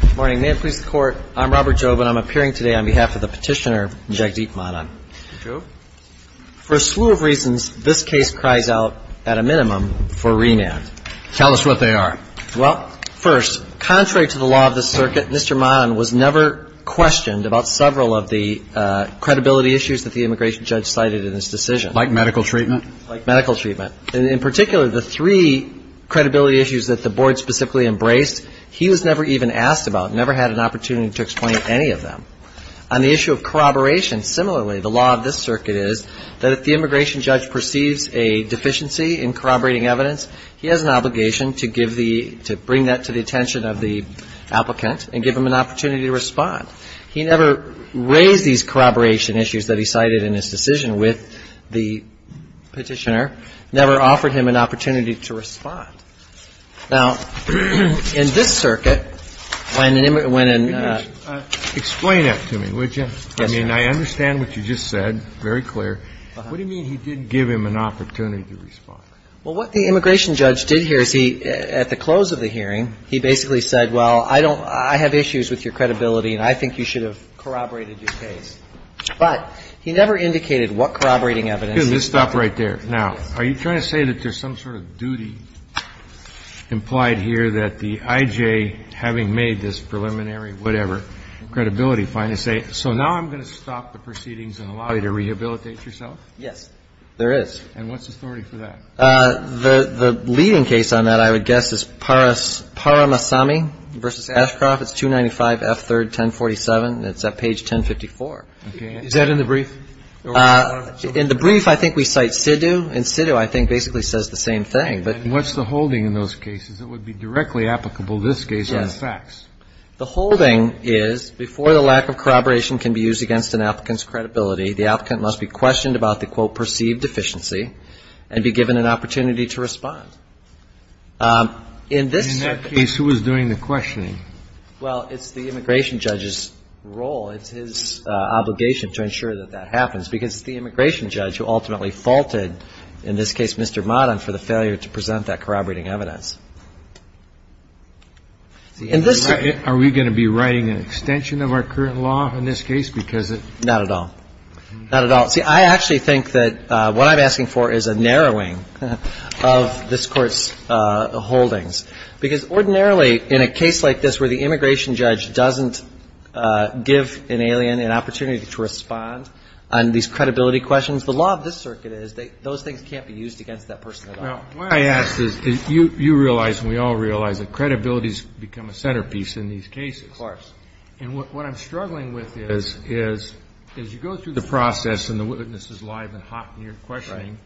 Good morning. May it please the Court, I'm Robert Jobe, and I'm appearing today on behalf of the petitioner, Jagdeep Manan. For a slew of reasons, this case cries out, at a minimum, for remand. Tell us what they are. Well, first, contrary to the law of the circuit, Mr. Manan was never questioned about several of the credibility issues that the immigration judge cited in his decision. Like medical treatment? Like medical treatment. And in particular, the three credibility issues that the Board specifically embraced, he was never even asked about, never had an opportunity to explain any of them. On the issue of corroboration, similarly, the law of this circuit is that if the immigration judge perceives a deficiency in corroborating evidence, he has an obligation to give the to bring that to the attention of the applicant and give him an opportunity to respond. He never raised these corroboration issues that he cited in his decision with the petitioner, never offered him an opportunity to respond. Now, in this circuit, when an immigrant went in and ---- Explain that to me, would you? Yes, Your Honor. I mean, I understand what you just said, very clear. What do you mean he didn't give him an opportunity to respond? Well, what the immigration judge did here is he, at the close of the hearing, he basically said, well, I don't ---- I have issues with your credibility and I think you should have corroborated your case. But he never indicated what corroborating evidence ---- Just stop right there. Now, are you trying to say that there's some sort of duty implied here that the I.J., having made this preliminary whatever credibility, finally say, so now I'm going to stop the proceedings and allow you to rehabilitate yourself? Yes, there is. And what's the authority for that? The leading case on that, I would guess, is Paramasami v. Ashcroft. It's 295 F. 3rd, 1047. It's at page 1054. Is that in the brief? In the brief, I think we cite sidhu, and sidhu I think basically says the same thing. And what's the holding in those cases that would be directly applicable in this case on facts? The holding is, before the lack of corroboration can be used against an applicant's credibility, the applicant must be questioned about the, quote, perceived deficiency and be given an opportunity to respond. In this case, who is doing the questioning? Well, it's the immigration judge's role. It's his obligation to ensure that that happens, because it's the immigration judge who ultimately faulted, in this case, Mr. Madan, for the failure to present that corroborating evidence. Are we going to be writing an extension of our current law in this case? Because it Not at all. Not at all. See, I actually think that what I'm asking for is a narrowing of this Court's holdings. Because ordinarily, in a case like this where the immigration judge doesn't give an alien an opportunity to respond on these credibility questions, the law of this circuit is that those things can't be used against that person at all. Now, what I ask is, you realize and we all realize that credibility has become a centerpiece in these cases. Of course. And what I'm struggling with is, as you go through the process and the witness is live and hot in your questioning,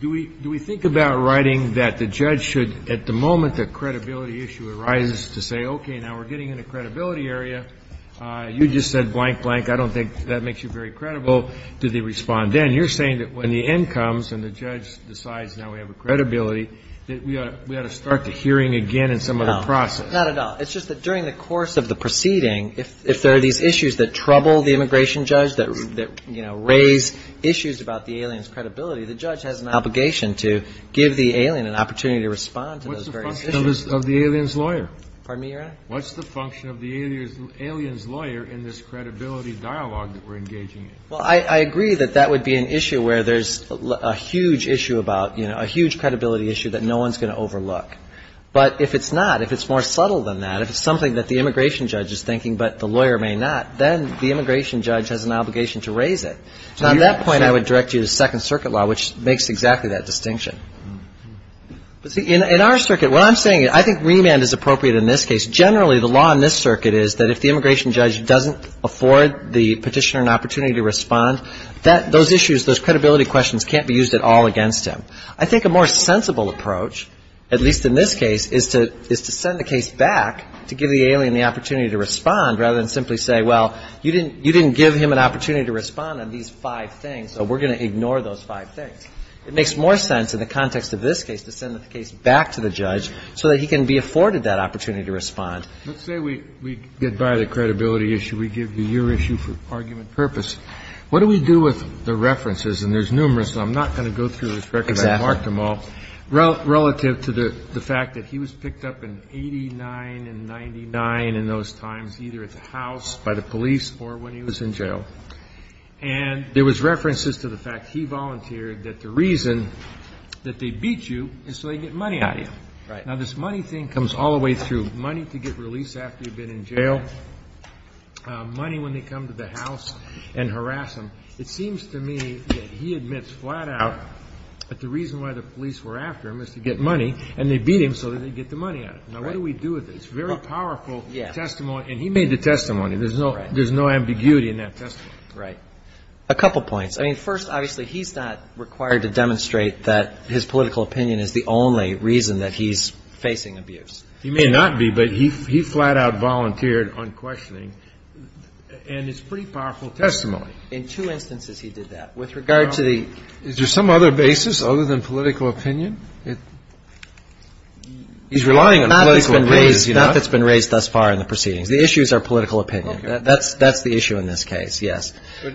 do we think about writing that the judge should, at the moment the credibility issue arises, to say, okay, now we're getting into the credibility area. You just said blank, blank. I don't think that makes you very credible. Do they respond then? You're saying that when the end comes and the judge decides now we have a credibility, that we ought to start the hearing again in some other process. No, not at all. It's just that during the course of the proceeding, if there are these issues that trouble the immigration judge, that raise issues about the alien's credibility, the judge has an obligation to give the alien an opportunity to respond to those various issues. What's the function of the alien's lawyer? Pardon me, Your Honor? What's the function of the alien's lawyer in this credibility dialogue that we're engaging in? Well, I agree that that would be an issue where there's a huge issue about, you know, a huge credibility issue that no one's going to overlook. But if it's not, if it's more subtle than that, if it's something that the immigration judge is thinking but the lawyer may not, then the immigration judge has an obligation to raise it. So on that point, I would direct you to Second Circuit law, which makes exactly that distinction. In our circuit, what I'm saying, I think remand is appropriate in this case. Generally, the law in this circuit is that if the immigration judge doesn't afford the petitioner an opportunity to respond, those issues, those credibility questions can't be used at all against him. I think a more sensible approach, at least in this case, is to send the case back to give the alien the opportunity to respond rather than simply say, well, you didn't give him an opportunity to respond on these five things, so we're going to ignore those five things. It makes more sense in the context of this case to send the case back to the judge so that he can be afforded that opportunity to respond. Let's say we get by the credibility issue. We give you your issue for argument purpose. What do we do with the references? And there's numerous, and I'm not going to go through this record. Exactly. I marked them all. Relative to the fact that he was picked up in 89 and 99 in those times, either at the house, by the police, or when he was in jail. And there was references to the fact he volunteered that the reason that they beat you is so they get money out of you. Right. Now, this money thing comes all the way through, money to get release after you've been in jail, money when they come to the house and harass him. It seems to me that he admits flat out that the reason why the police were after him is to get money, and they beat him so that they get the money out of him. Now, what do we do with this? Very powerful testimony, and he made the testimony. There's no ambiguity in that testimony. Right. A couple points. I mean, first, obviously, he's not required to demonstrate that his political opinion is the only reason that he's facing abuse. He may not be, but he flat out volunteered unquestioning, and it's a pretty powerful testimony. In two instances, he did that. With regard to the ---- Now, is there some other basis other than political opinion? He's relying on political opinion, is he not? Not that's been raised thus far in the proceedings. The issues are political opinion. Okay. That's the issue in this case, yes.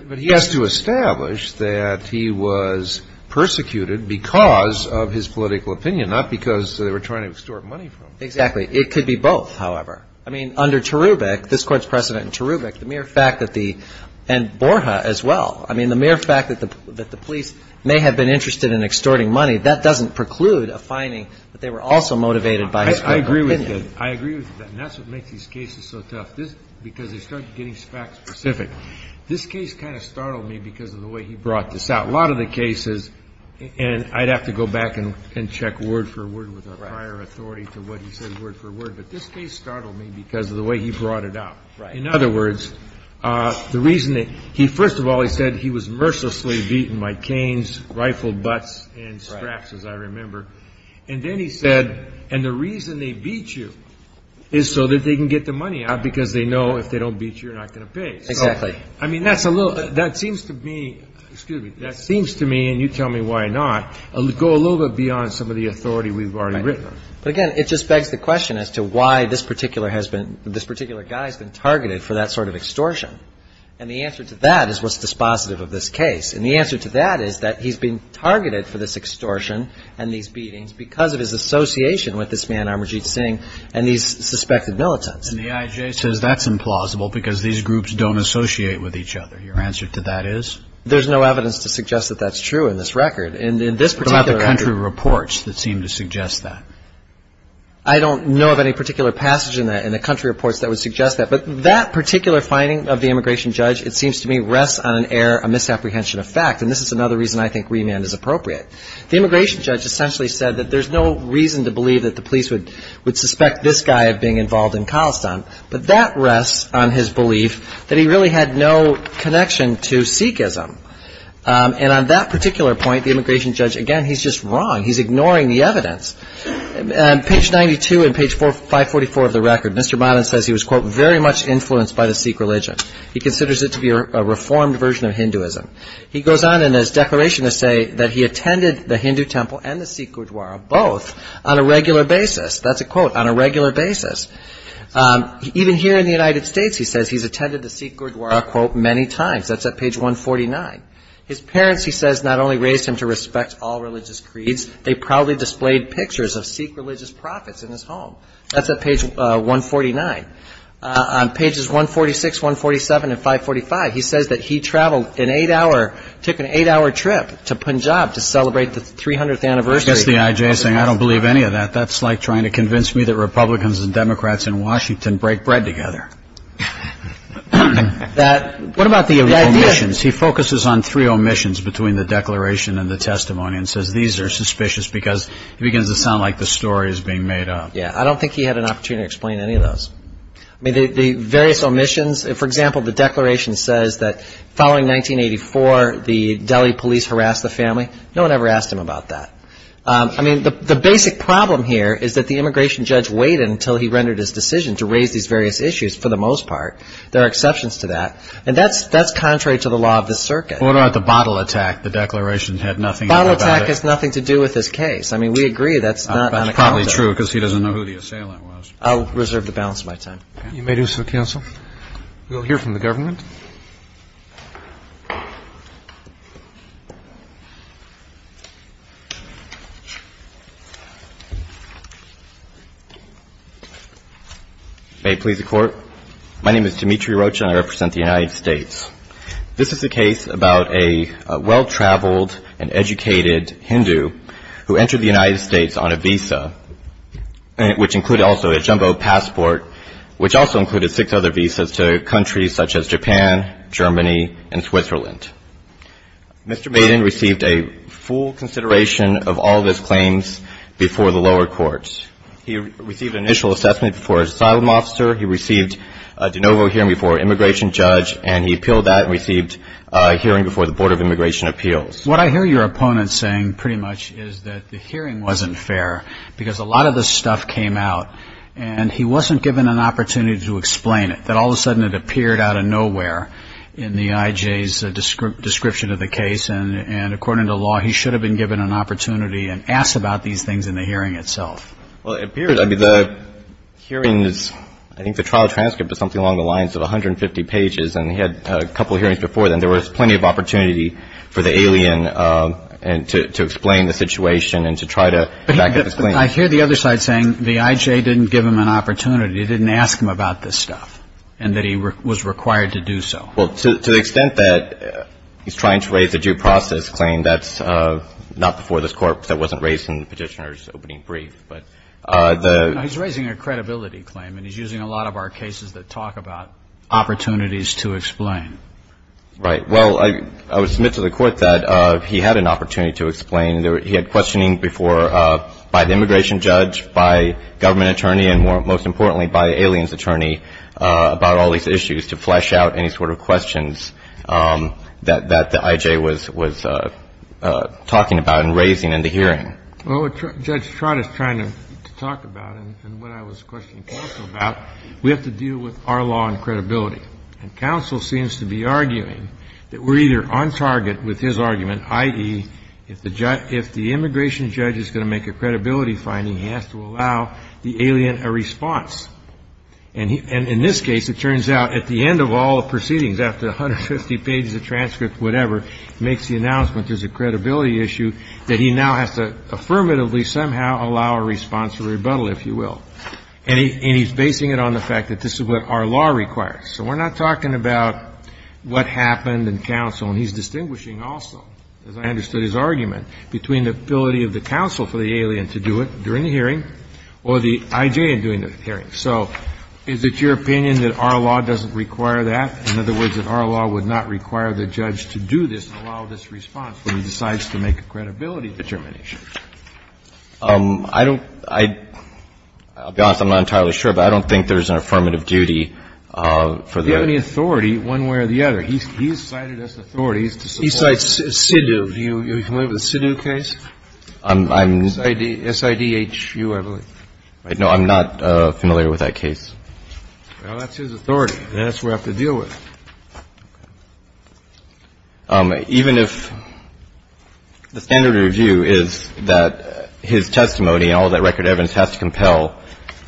But he has to establish that he was persecuted because of his political opinion, not because they were trying to extort money from him. Exactly. It could be both, however. I mean, under Terubic, this Court's precedent in Terubic, the mere fact that the ---- and Borja as well. I mean, the mere fact that the police may have been interested in extorting money, that doesn't preclude a finding that they were also motivated by his political opinion. I agree with you. I agree with that. And that's what makes these cases so tough, because they start getting fact-specific. This case kind of startled me because of the way he brought this out. A lot of the cases, and I'd have to go back and check word for word with a prior authority to what he said word for word. But this case startled me because of the way he brought it up. In other words, the reason that he ---- first of all, he said he was mercilessly beaten by canes, rifled butts and straps, as I remember. And then he said, and the reason they beat you is so that they can get the money out, because they know if they don't beat you, you're not going to pay. Exactly. I mean, that's a little ---- that seems to me ---- excuse me ---- that seems to me, and you tell me why not, go a little bit beyond some of the authority we've already written on. But again, it just begs the question as to why this particular has been ---- this particular guy has been targeted for that sort of extortion. And the answer to that is what's dispositive of this case. And the answer to that is that he's been targeted for this extortion and these beatings because of his association with this man, Amarjeet Singh, and these suspected militants. And the IJ says that's implausible because these groups don't associate with each other. Your answer to that is? There's no evidence to suggest that that's true in this record. I don't have the country reports that seem to suggest that. I don't know of any particular passage in the country reports that would suggest that. But that particular finding of the immigration judge, it seems to me, rests on an error, a misapprehension of fact. And this is another reason I think remand is appropriate. The immigration judge essentially said that there's no reason to believe that the police would suspect this guy of being involved in Khalistan. But that rests on his belief that he really had no connection to Sikhism. And on that particular point, the immigration judge, again, he's just wrong. He's ignoring the evidence. Page 92 and page 544 of the record, Mr. Madan says he was, quote, very much influenced by the Sikh religion. He considers it to be a reformed version of Hinduism. He goes on in his declaration to say that he attended the Hindu temple and the Sikh gurdwara both on a regular basis. That's a quote, on a regular basis. Even here in the United States, he says he's attended the Sikh gurdwara, quote, many times. That's at page 149. His parents, he says, not only raised him to respect all religious creeds, they proudly displayed pictures of Sikh religious prophets in his home. That's at page 149. On pages 146, 147, and 545, he says that he traveled an eight-hour, took an eight-hour trip to Punjab to celebrate the 300th anniversary. I guess the I.J. is saying I don't believe any of that. That's like trying to convince me that Republicans and Democrats in Washington break bread together. What about the omissions? He focuses on three omissions between the declaration and the testimony and says these are suspicious because he begins to sound like the story is being made up. Yeah, I don't think he had an opportunity to explain any of those. I mean, the various omissions, for example, the declaration says that following 1984, the Delhi police harassed the family. No one ever asked him about that. I mean, the basic problem here is that the immigration judge waited until he rendered his decision to raise these various issues for the most part. There are exceptions to that, and that's contrary to the law of the circuit. What about the bottle attack? The declaration had nothing to do with it. The bottle attack has nothing to do with this case. I mean, we agree that's not unaccountable. That's probably true because he doesn't know who the assailant was. I'll reserve the balance of my time. You may do so, counsel. We'll hear from the government. May it please the Court. My name is Dimitri Rocha, and I represent the United States. This is a case about a well-traveled and educated Hindu who entered the United States on a visa, which included also a jumbo passport, which also included six other visas to countries such as Japan, Germany, and Switzerland. Mr. Maden received a full consideration of all of his claims before the lower courts. He received an initial assessment before his asylum officer. He received a de novo hearing before an immigration judge, and he appealed that and received a hearing before the Board of Immigration Appeals. What I hear your opponent saying pretty much is that the hearing wasn't fair because a lot of this stuff came out, and he wasn't given an opportunity to explain it, that all of a sudden it appeared out of nowhere in the IJ's description of the case, and according to law, he should have been given an opportunity and asked about these things in the hearing itself. Well, it appears. I mean, the hearings, I think the trial transcript is something along the lines of 150 pages, and he had a couple hearings before then. There was plenty of opportunity for the alien to explain the situation and to try to back up his claims. But I hear the other side saying the IJ didn't give him an opportunity. It didn't ask him about this stuff and that he was required to do so. Well, to the extent that he's trying to raise a due process claim, that's not before this Court that wasn't raised in the Petitioner's opening brief. But the — No, he's raising a credibility claim, and he's using a lot of our cases that talk about opportunities to explain. Right. Well, I would submit to the Court that he had an opportunity to explain. He had questioning before by the immigration judge, by government attorney, and most importantly by the alien's attorney about all these issues to flesh out any sort of questions that the IJ was talking about and raising in the hearing. Well, what Judge Trott is trying to talk about and what I was questioning counsel about, we have to deal with our law and credibility. And counsel seems to be arguing that we're either on target with his argument, i.e., if the immigration judge is going to make a credibility finding, he has to allow the alien a response. And in this case, it turns out at the end of all the proceedings, after 150 pages of transcripts, whatever, he makes the announcement there's a credibility issue, that he now has to affirmatively somehow allow a response, a rebuttal, if you will. And he's basing it on the fact that this is what our law requires. So we're not talking about what happened in counsel. And he's distinguishing also, as I understood his argument, between the ability of the counsel for the alien to do it during the hearing or the IJ in doing the hearing. So is it your opinion that our law doesn't require that? In other words, that our law would not require the judge to do this and allow this response when he decides to make a credibility determination? I don't – I'll be honest. I'm not entirely sure, but I don't think there's an affirmative duty for the – Do you have any authority one way or the other? He's cited us authorities to support – He cites SIDU. Do you – are you familiar with the SIDU case? I'm – SIDHU, I believe. No, I'm not familiar with that case. Well, that's his authority. That's what we have to deal with. Even if the standard of review is that his testimony and all of that record evidence has to compel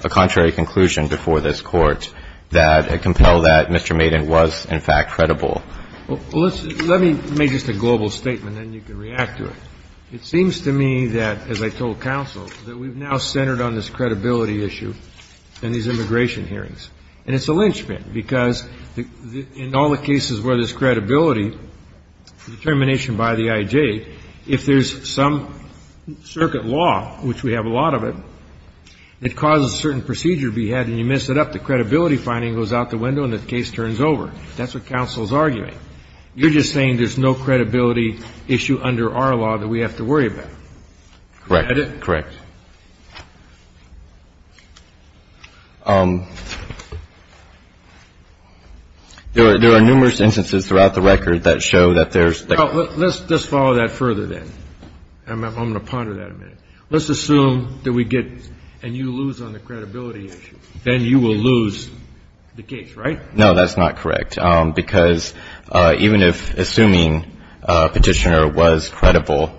a contrary conclusion before this Court that – compel that Mr. Maiden was, in fact, credible. Well, let's – let me make just a global statement, and then you can react to it. It seems to me that, as I told counsel, that we've now centered on this credibility issue and these immigration hearings. And it's a lynchpin, because in all the cases where there's credibility, determination by the IJ, if there's some circuit law, which we have a lot of it, that causes a certain procedure to be had and you mess it up, the credibility finding goes out the window and the case turns over. That's what counsel is arguing. You're just saying there's no credibility issue under our law that we have to worry about. Correct? Correct. There are numerous instances throughout the record that show that there's – Well, let's follow that further, then. I'm going to ponder that a minute. Let's assume that we get – and you lose on the credibility issue. Then you will lose the case, right? No, that's not correct, because even if assuming Petitioner was credible,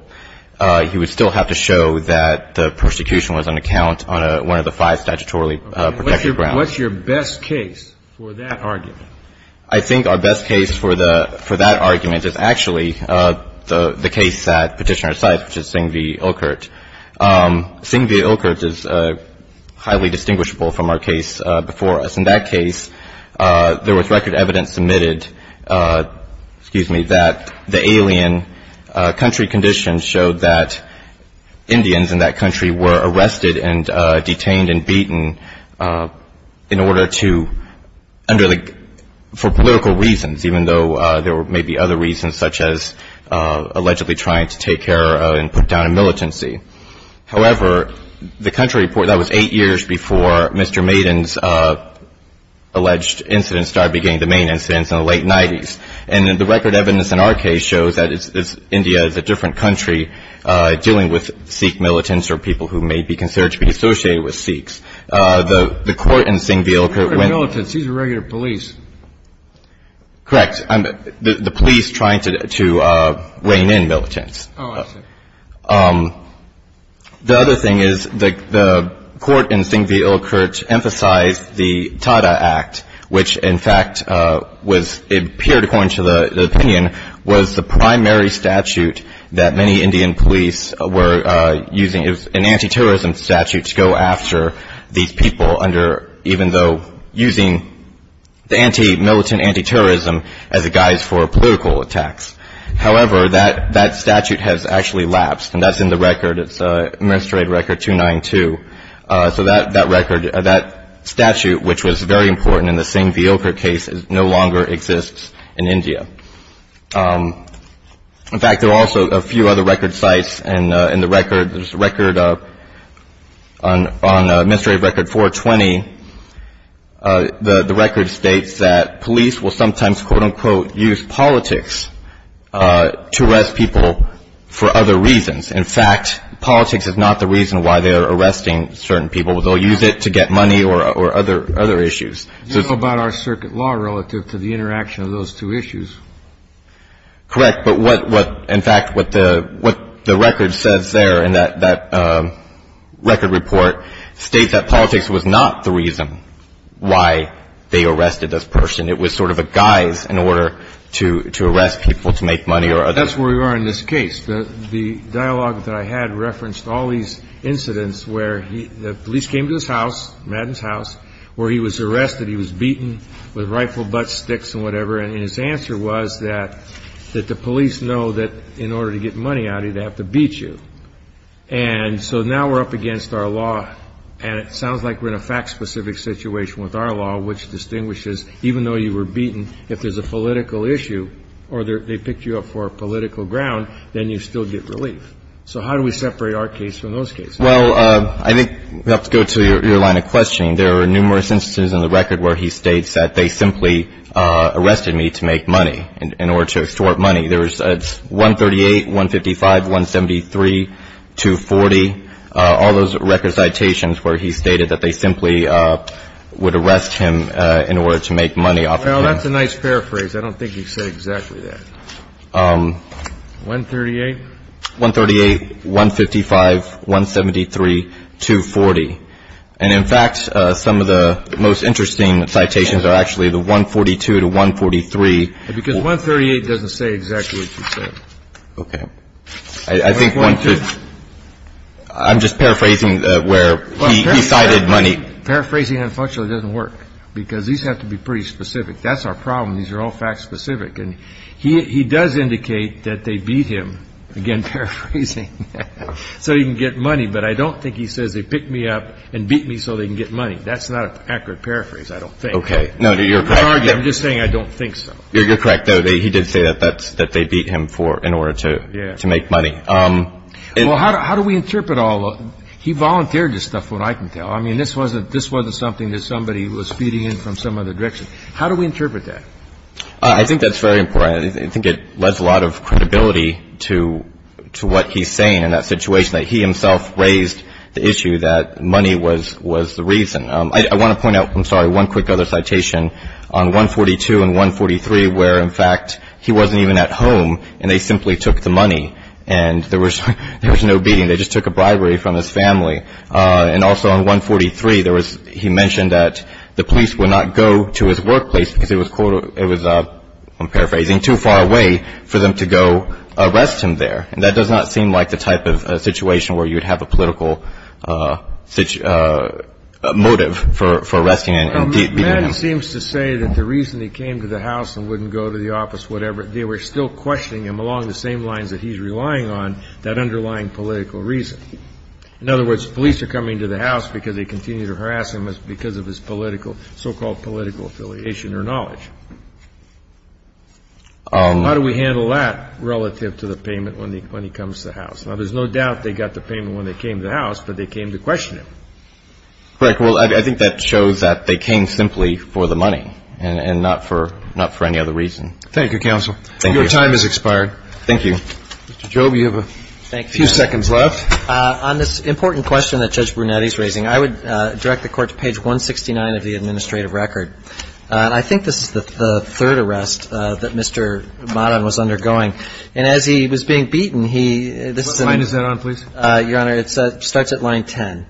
he would still have to show that the persecution was on account on one of the five statutorily protected grounds. What's your best case for that argument? I think our best case for that argument is actually the case that Petitioner cites, which is Singh v. Ilkert. Singh v. Ilkert is highly distinguishable from our case before us. In that case, there was record evidence submitted – excuse me – that the alien country conditions showed that Indians in that country were arrested and detained and beaten in order to – under the – for political reasons, even though there may be other reasons, such as allegedly trying to take care and put down a militancy. However, the country report – that was eight years before Mr. Maiden's alleged incidents started beginning the main incidents in the late 90s. And the record evidence in our case shows that India is a different country dealing with Sikh militants or people who may be considered to be associated with Sikhs. The court in Singh v. Ilkert went – He's not a militant. He's a regular police. Correct. The police trying to rein in militants. Oh, I see. The other thing is, the court in Singh v. Ilkert emphasized the TADA Act, which, in fact, was – it appeared, according to the opinion, was the primary statute that many Indian police were using. It was an anti-terrorism statute to go after these people under – even though using the anti-militant, anti-terrorism as a guise for political attacks. However, that statute has actually lapsed. And that's in the record. It's Administrative Record 292. So that record – that statute, which was very important in the Singh v. Ilkert case, no longer exists in India. In fact, there are also a few other record sites. And in the record, there's a record on Administrative Record 420. The record states that police will sometimes, quote, unquote, use politics to arrest people for other reasons. In fact, politics is not the reason why they are arresting certain people. They'll use it to get money or other issues. You know about our circuit law relative to the interaction of those two issues. Correct. But what – in fact, what the record says there in that record report states that politics is not the reason why they arrested this person. It was sort of a guise in order to arrest people to make money or other – That's where we are in this case. The dialogue that I had referenced all these incidents where the police came to his house, Madden's house, where he was arrested. He was beaten with rifle butt sticks and whatever. And his answer was that the police know that in order to get money out of you, they have to beat you. And so now we're up against our law. And it sounds like we're in a fact-specific situation with our law, which distinguishes even though you were beaten, if there's a political issue or they picked you up for a political ground, then you still get relief. So how do we separate our case from those cases? Well, I think we have to go to your line of questioning. There are numerous instances in the record where he states that they simply arrested me to make money, in order to extort money. There's 138, 155, 173, 240, all those record citations where he stated that they simply would arrest him in order to make money off of him. Well, that's a nice paraphrase. I don't think he said exactly that. 138? 138, 155, 173, 240. And, in fact, some of the most interesting citations are actually the 142 to 143. Because 138 doesn't say exactly what you said. Okay. I think 142. I'm just paraphrasing where he cited money. Paraphrasing, unfortunately, doesn't work, because these have to be pretty specific. That's our problem. These are all fact-specific. And he does indicate that they beat him, again paraphrasing, so he can get money. But I don't think he says they picked me up and beat me so they can get money. That's not an accurate paraphrase, I don't think. Okay. No, you're correct. I'm not arguing. I'm just saying I don't think so. You're correct, though. He did say that they beat him in order to make money. Well, how do we interpret all of it? He volunteered this stuff, from what I can tell. I mean, this wasn't something that somebody was feeding in from some other direction. How do we interpret that? I think that's very important. I think it lends a lot of credibility to what he's saying in that situation, that he himself raised the issue that money was the reason. I want to point out, I'm sorry, one quick other citation on 142 and 143 where, in fact, he wasn't even at home and they simply took the money. And there was no beating. They just took a bribery from his family. And also on 143, there was he mentioned that the police would not go to his workplace because it was, I'm paraphrasing, too far away for them to go arrest him there. And that does not seem like the type of situation where you would have a political motive for arresting and beating him. Maddie seems to say that the reason he came to the house and wouldn't go to the office, whatever, they were still questioning him along the same lines that he's relying on, that underlying political reason. In other words, police are coming to the house because they continue to harass him because of his political, so-called political affiliation or knowledge. How do we handle that relative to the payment when he comes to the house? Now, there's no doubt they got the payment when they came to the house, but they came to question him. Correct. Well, I think that shows that they came simply for the money and not for any other reason. Thank you, counsel. Thank you. Your time has expired. Thank you. Mr. Jobe, you have a few seconds left. On this important question that Judge Brunetti is raising, I would direct the Court to page 169 of the administrative record. And I think this is the third arrest that Mr. Maddan was undergoing. And as he was being beaten, he – What line is that on, please? Your Honor, it starts at line 10.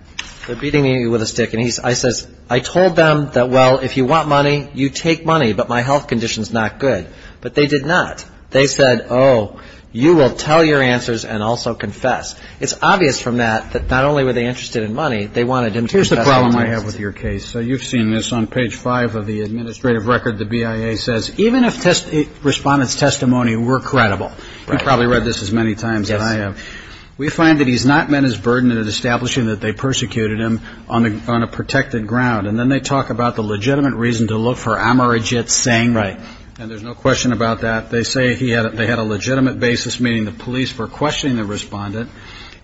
They're beating me with a stick, and I says, I told them that, well, if you want money, you take money, but my health condition's not good. But they did not. They said, oh, you will tell your answers and also confess. It's obvious from that that not only were they interested in money, they wanted him to confess. Here's the problem I have with your case. You've seen this. On page 5 of the administrative record, the BIA says, even if the respondent's testimony were credible – you've probably read this as many times as I have – we find that he's not met his burden in establishing that they persecuted him on a protected ground. And then they talk about the legitimate reason to look for Amarajit Singh. Right. And there's no question about that. They say they had a legitimate basis, meaning the police were questioning the respondent.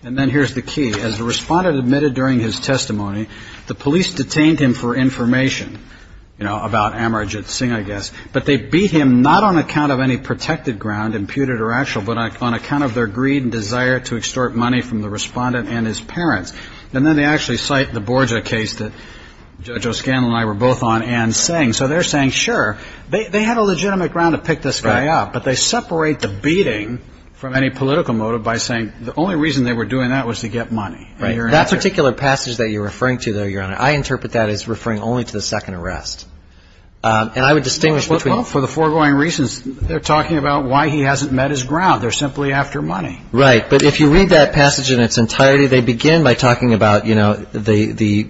And then here's the key. As the respondent admitted during his testimony, the police detained him for information, you know, about Amarajit Singh, I guess. But they beat him not on account of any protected ground, imputed or actual, but on account of their greed and desire to extort money from the respondent and his parents. And then they actually cite the Borja case that Judge O'Scanlan and I were both on and saying. So they're saying, sure, they had a legitimate ground to pick this guy up, but they separate the beating from any political motive by saying the only reason they were doing that was to get money. Right. That particular passage that you're referring to, though, Your Honor, I interpret that as referring only to the second arrest. And I would distinguish between. Well, for the foregoing reasons, they're talking about why he hasn't met his ground. They're simply after money. Right. But if you read that passage in its entirety, they begin by talking about, you know, the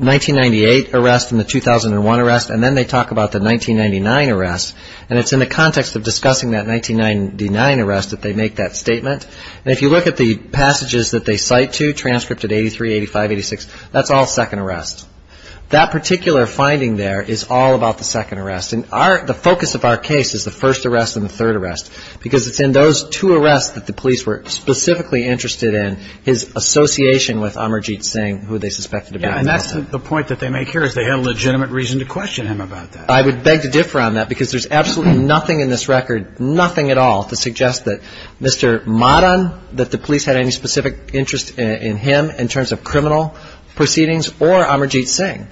1998 arrest and the 2001 arrest, and then they talk about the 1999 arrest. And it's in the context of discussing that 1999 arrest that they make that statement. And if you look at the passages that they cite to, transcript at 83, 85, 86, that's all second arrest. That particular finding there is all about the second arrest. And the focus of our case is the first arrest and the third arrest, because it's in those two arrests that the police were specifically interested in, his association with Amarjeet Singh, who they suspected to be involved in. Yeah, and that's the point that they make here, is they had a legitimate reason to question him about that. I would beg to differ on that, because there's absolutely nothing in this record, nothing at all, to suggest that Mr. Madan, that the police had any specific interest in him in terms of criminal proceedings or Amarjeet Singh.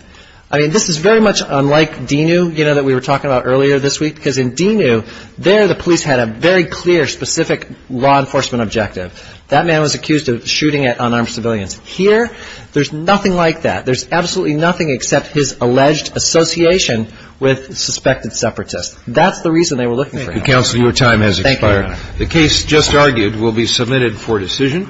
I mean, this is very much unlike DINU, you know, that we were talking about earlier this week, because in DINU, there the police had a very clear, specific law enforcement objective. That man was accused of shooting at unarmed civilians. Here, there's nothing like that. There's absolutely nothing except his alleged association with suspected separatists. That's the reason they were looking for him. Counsel, your time has expired. Thank you. The case just argued will be submitted for decision.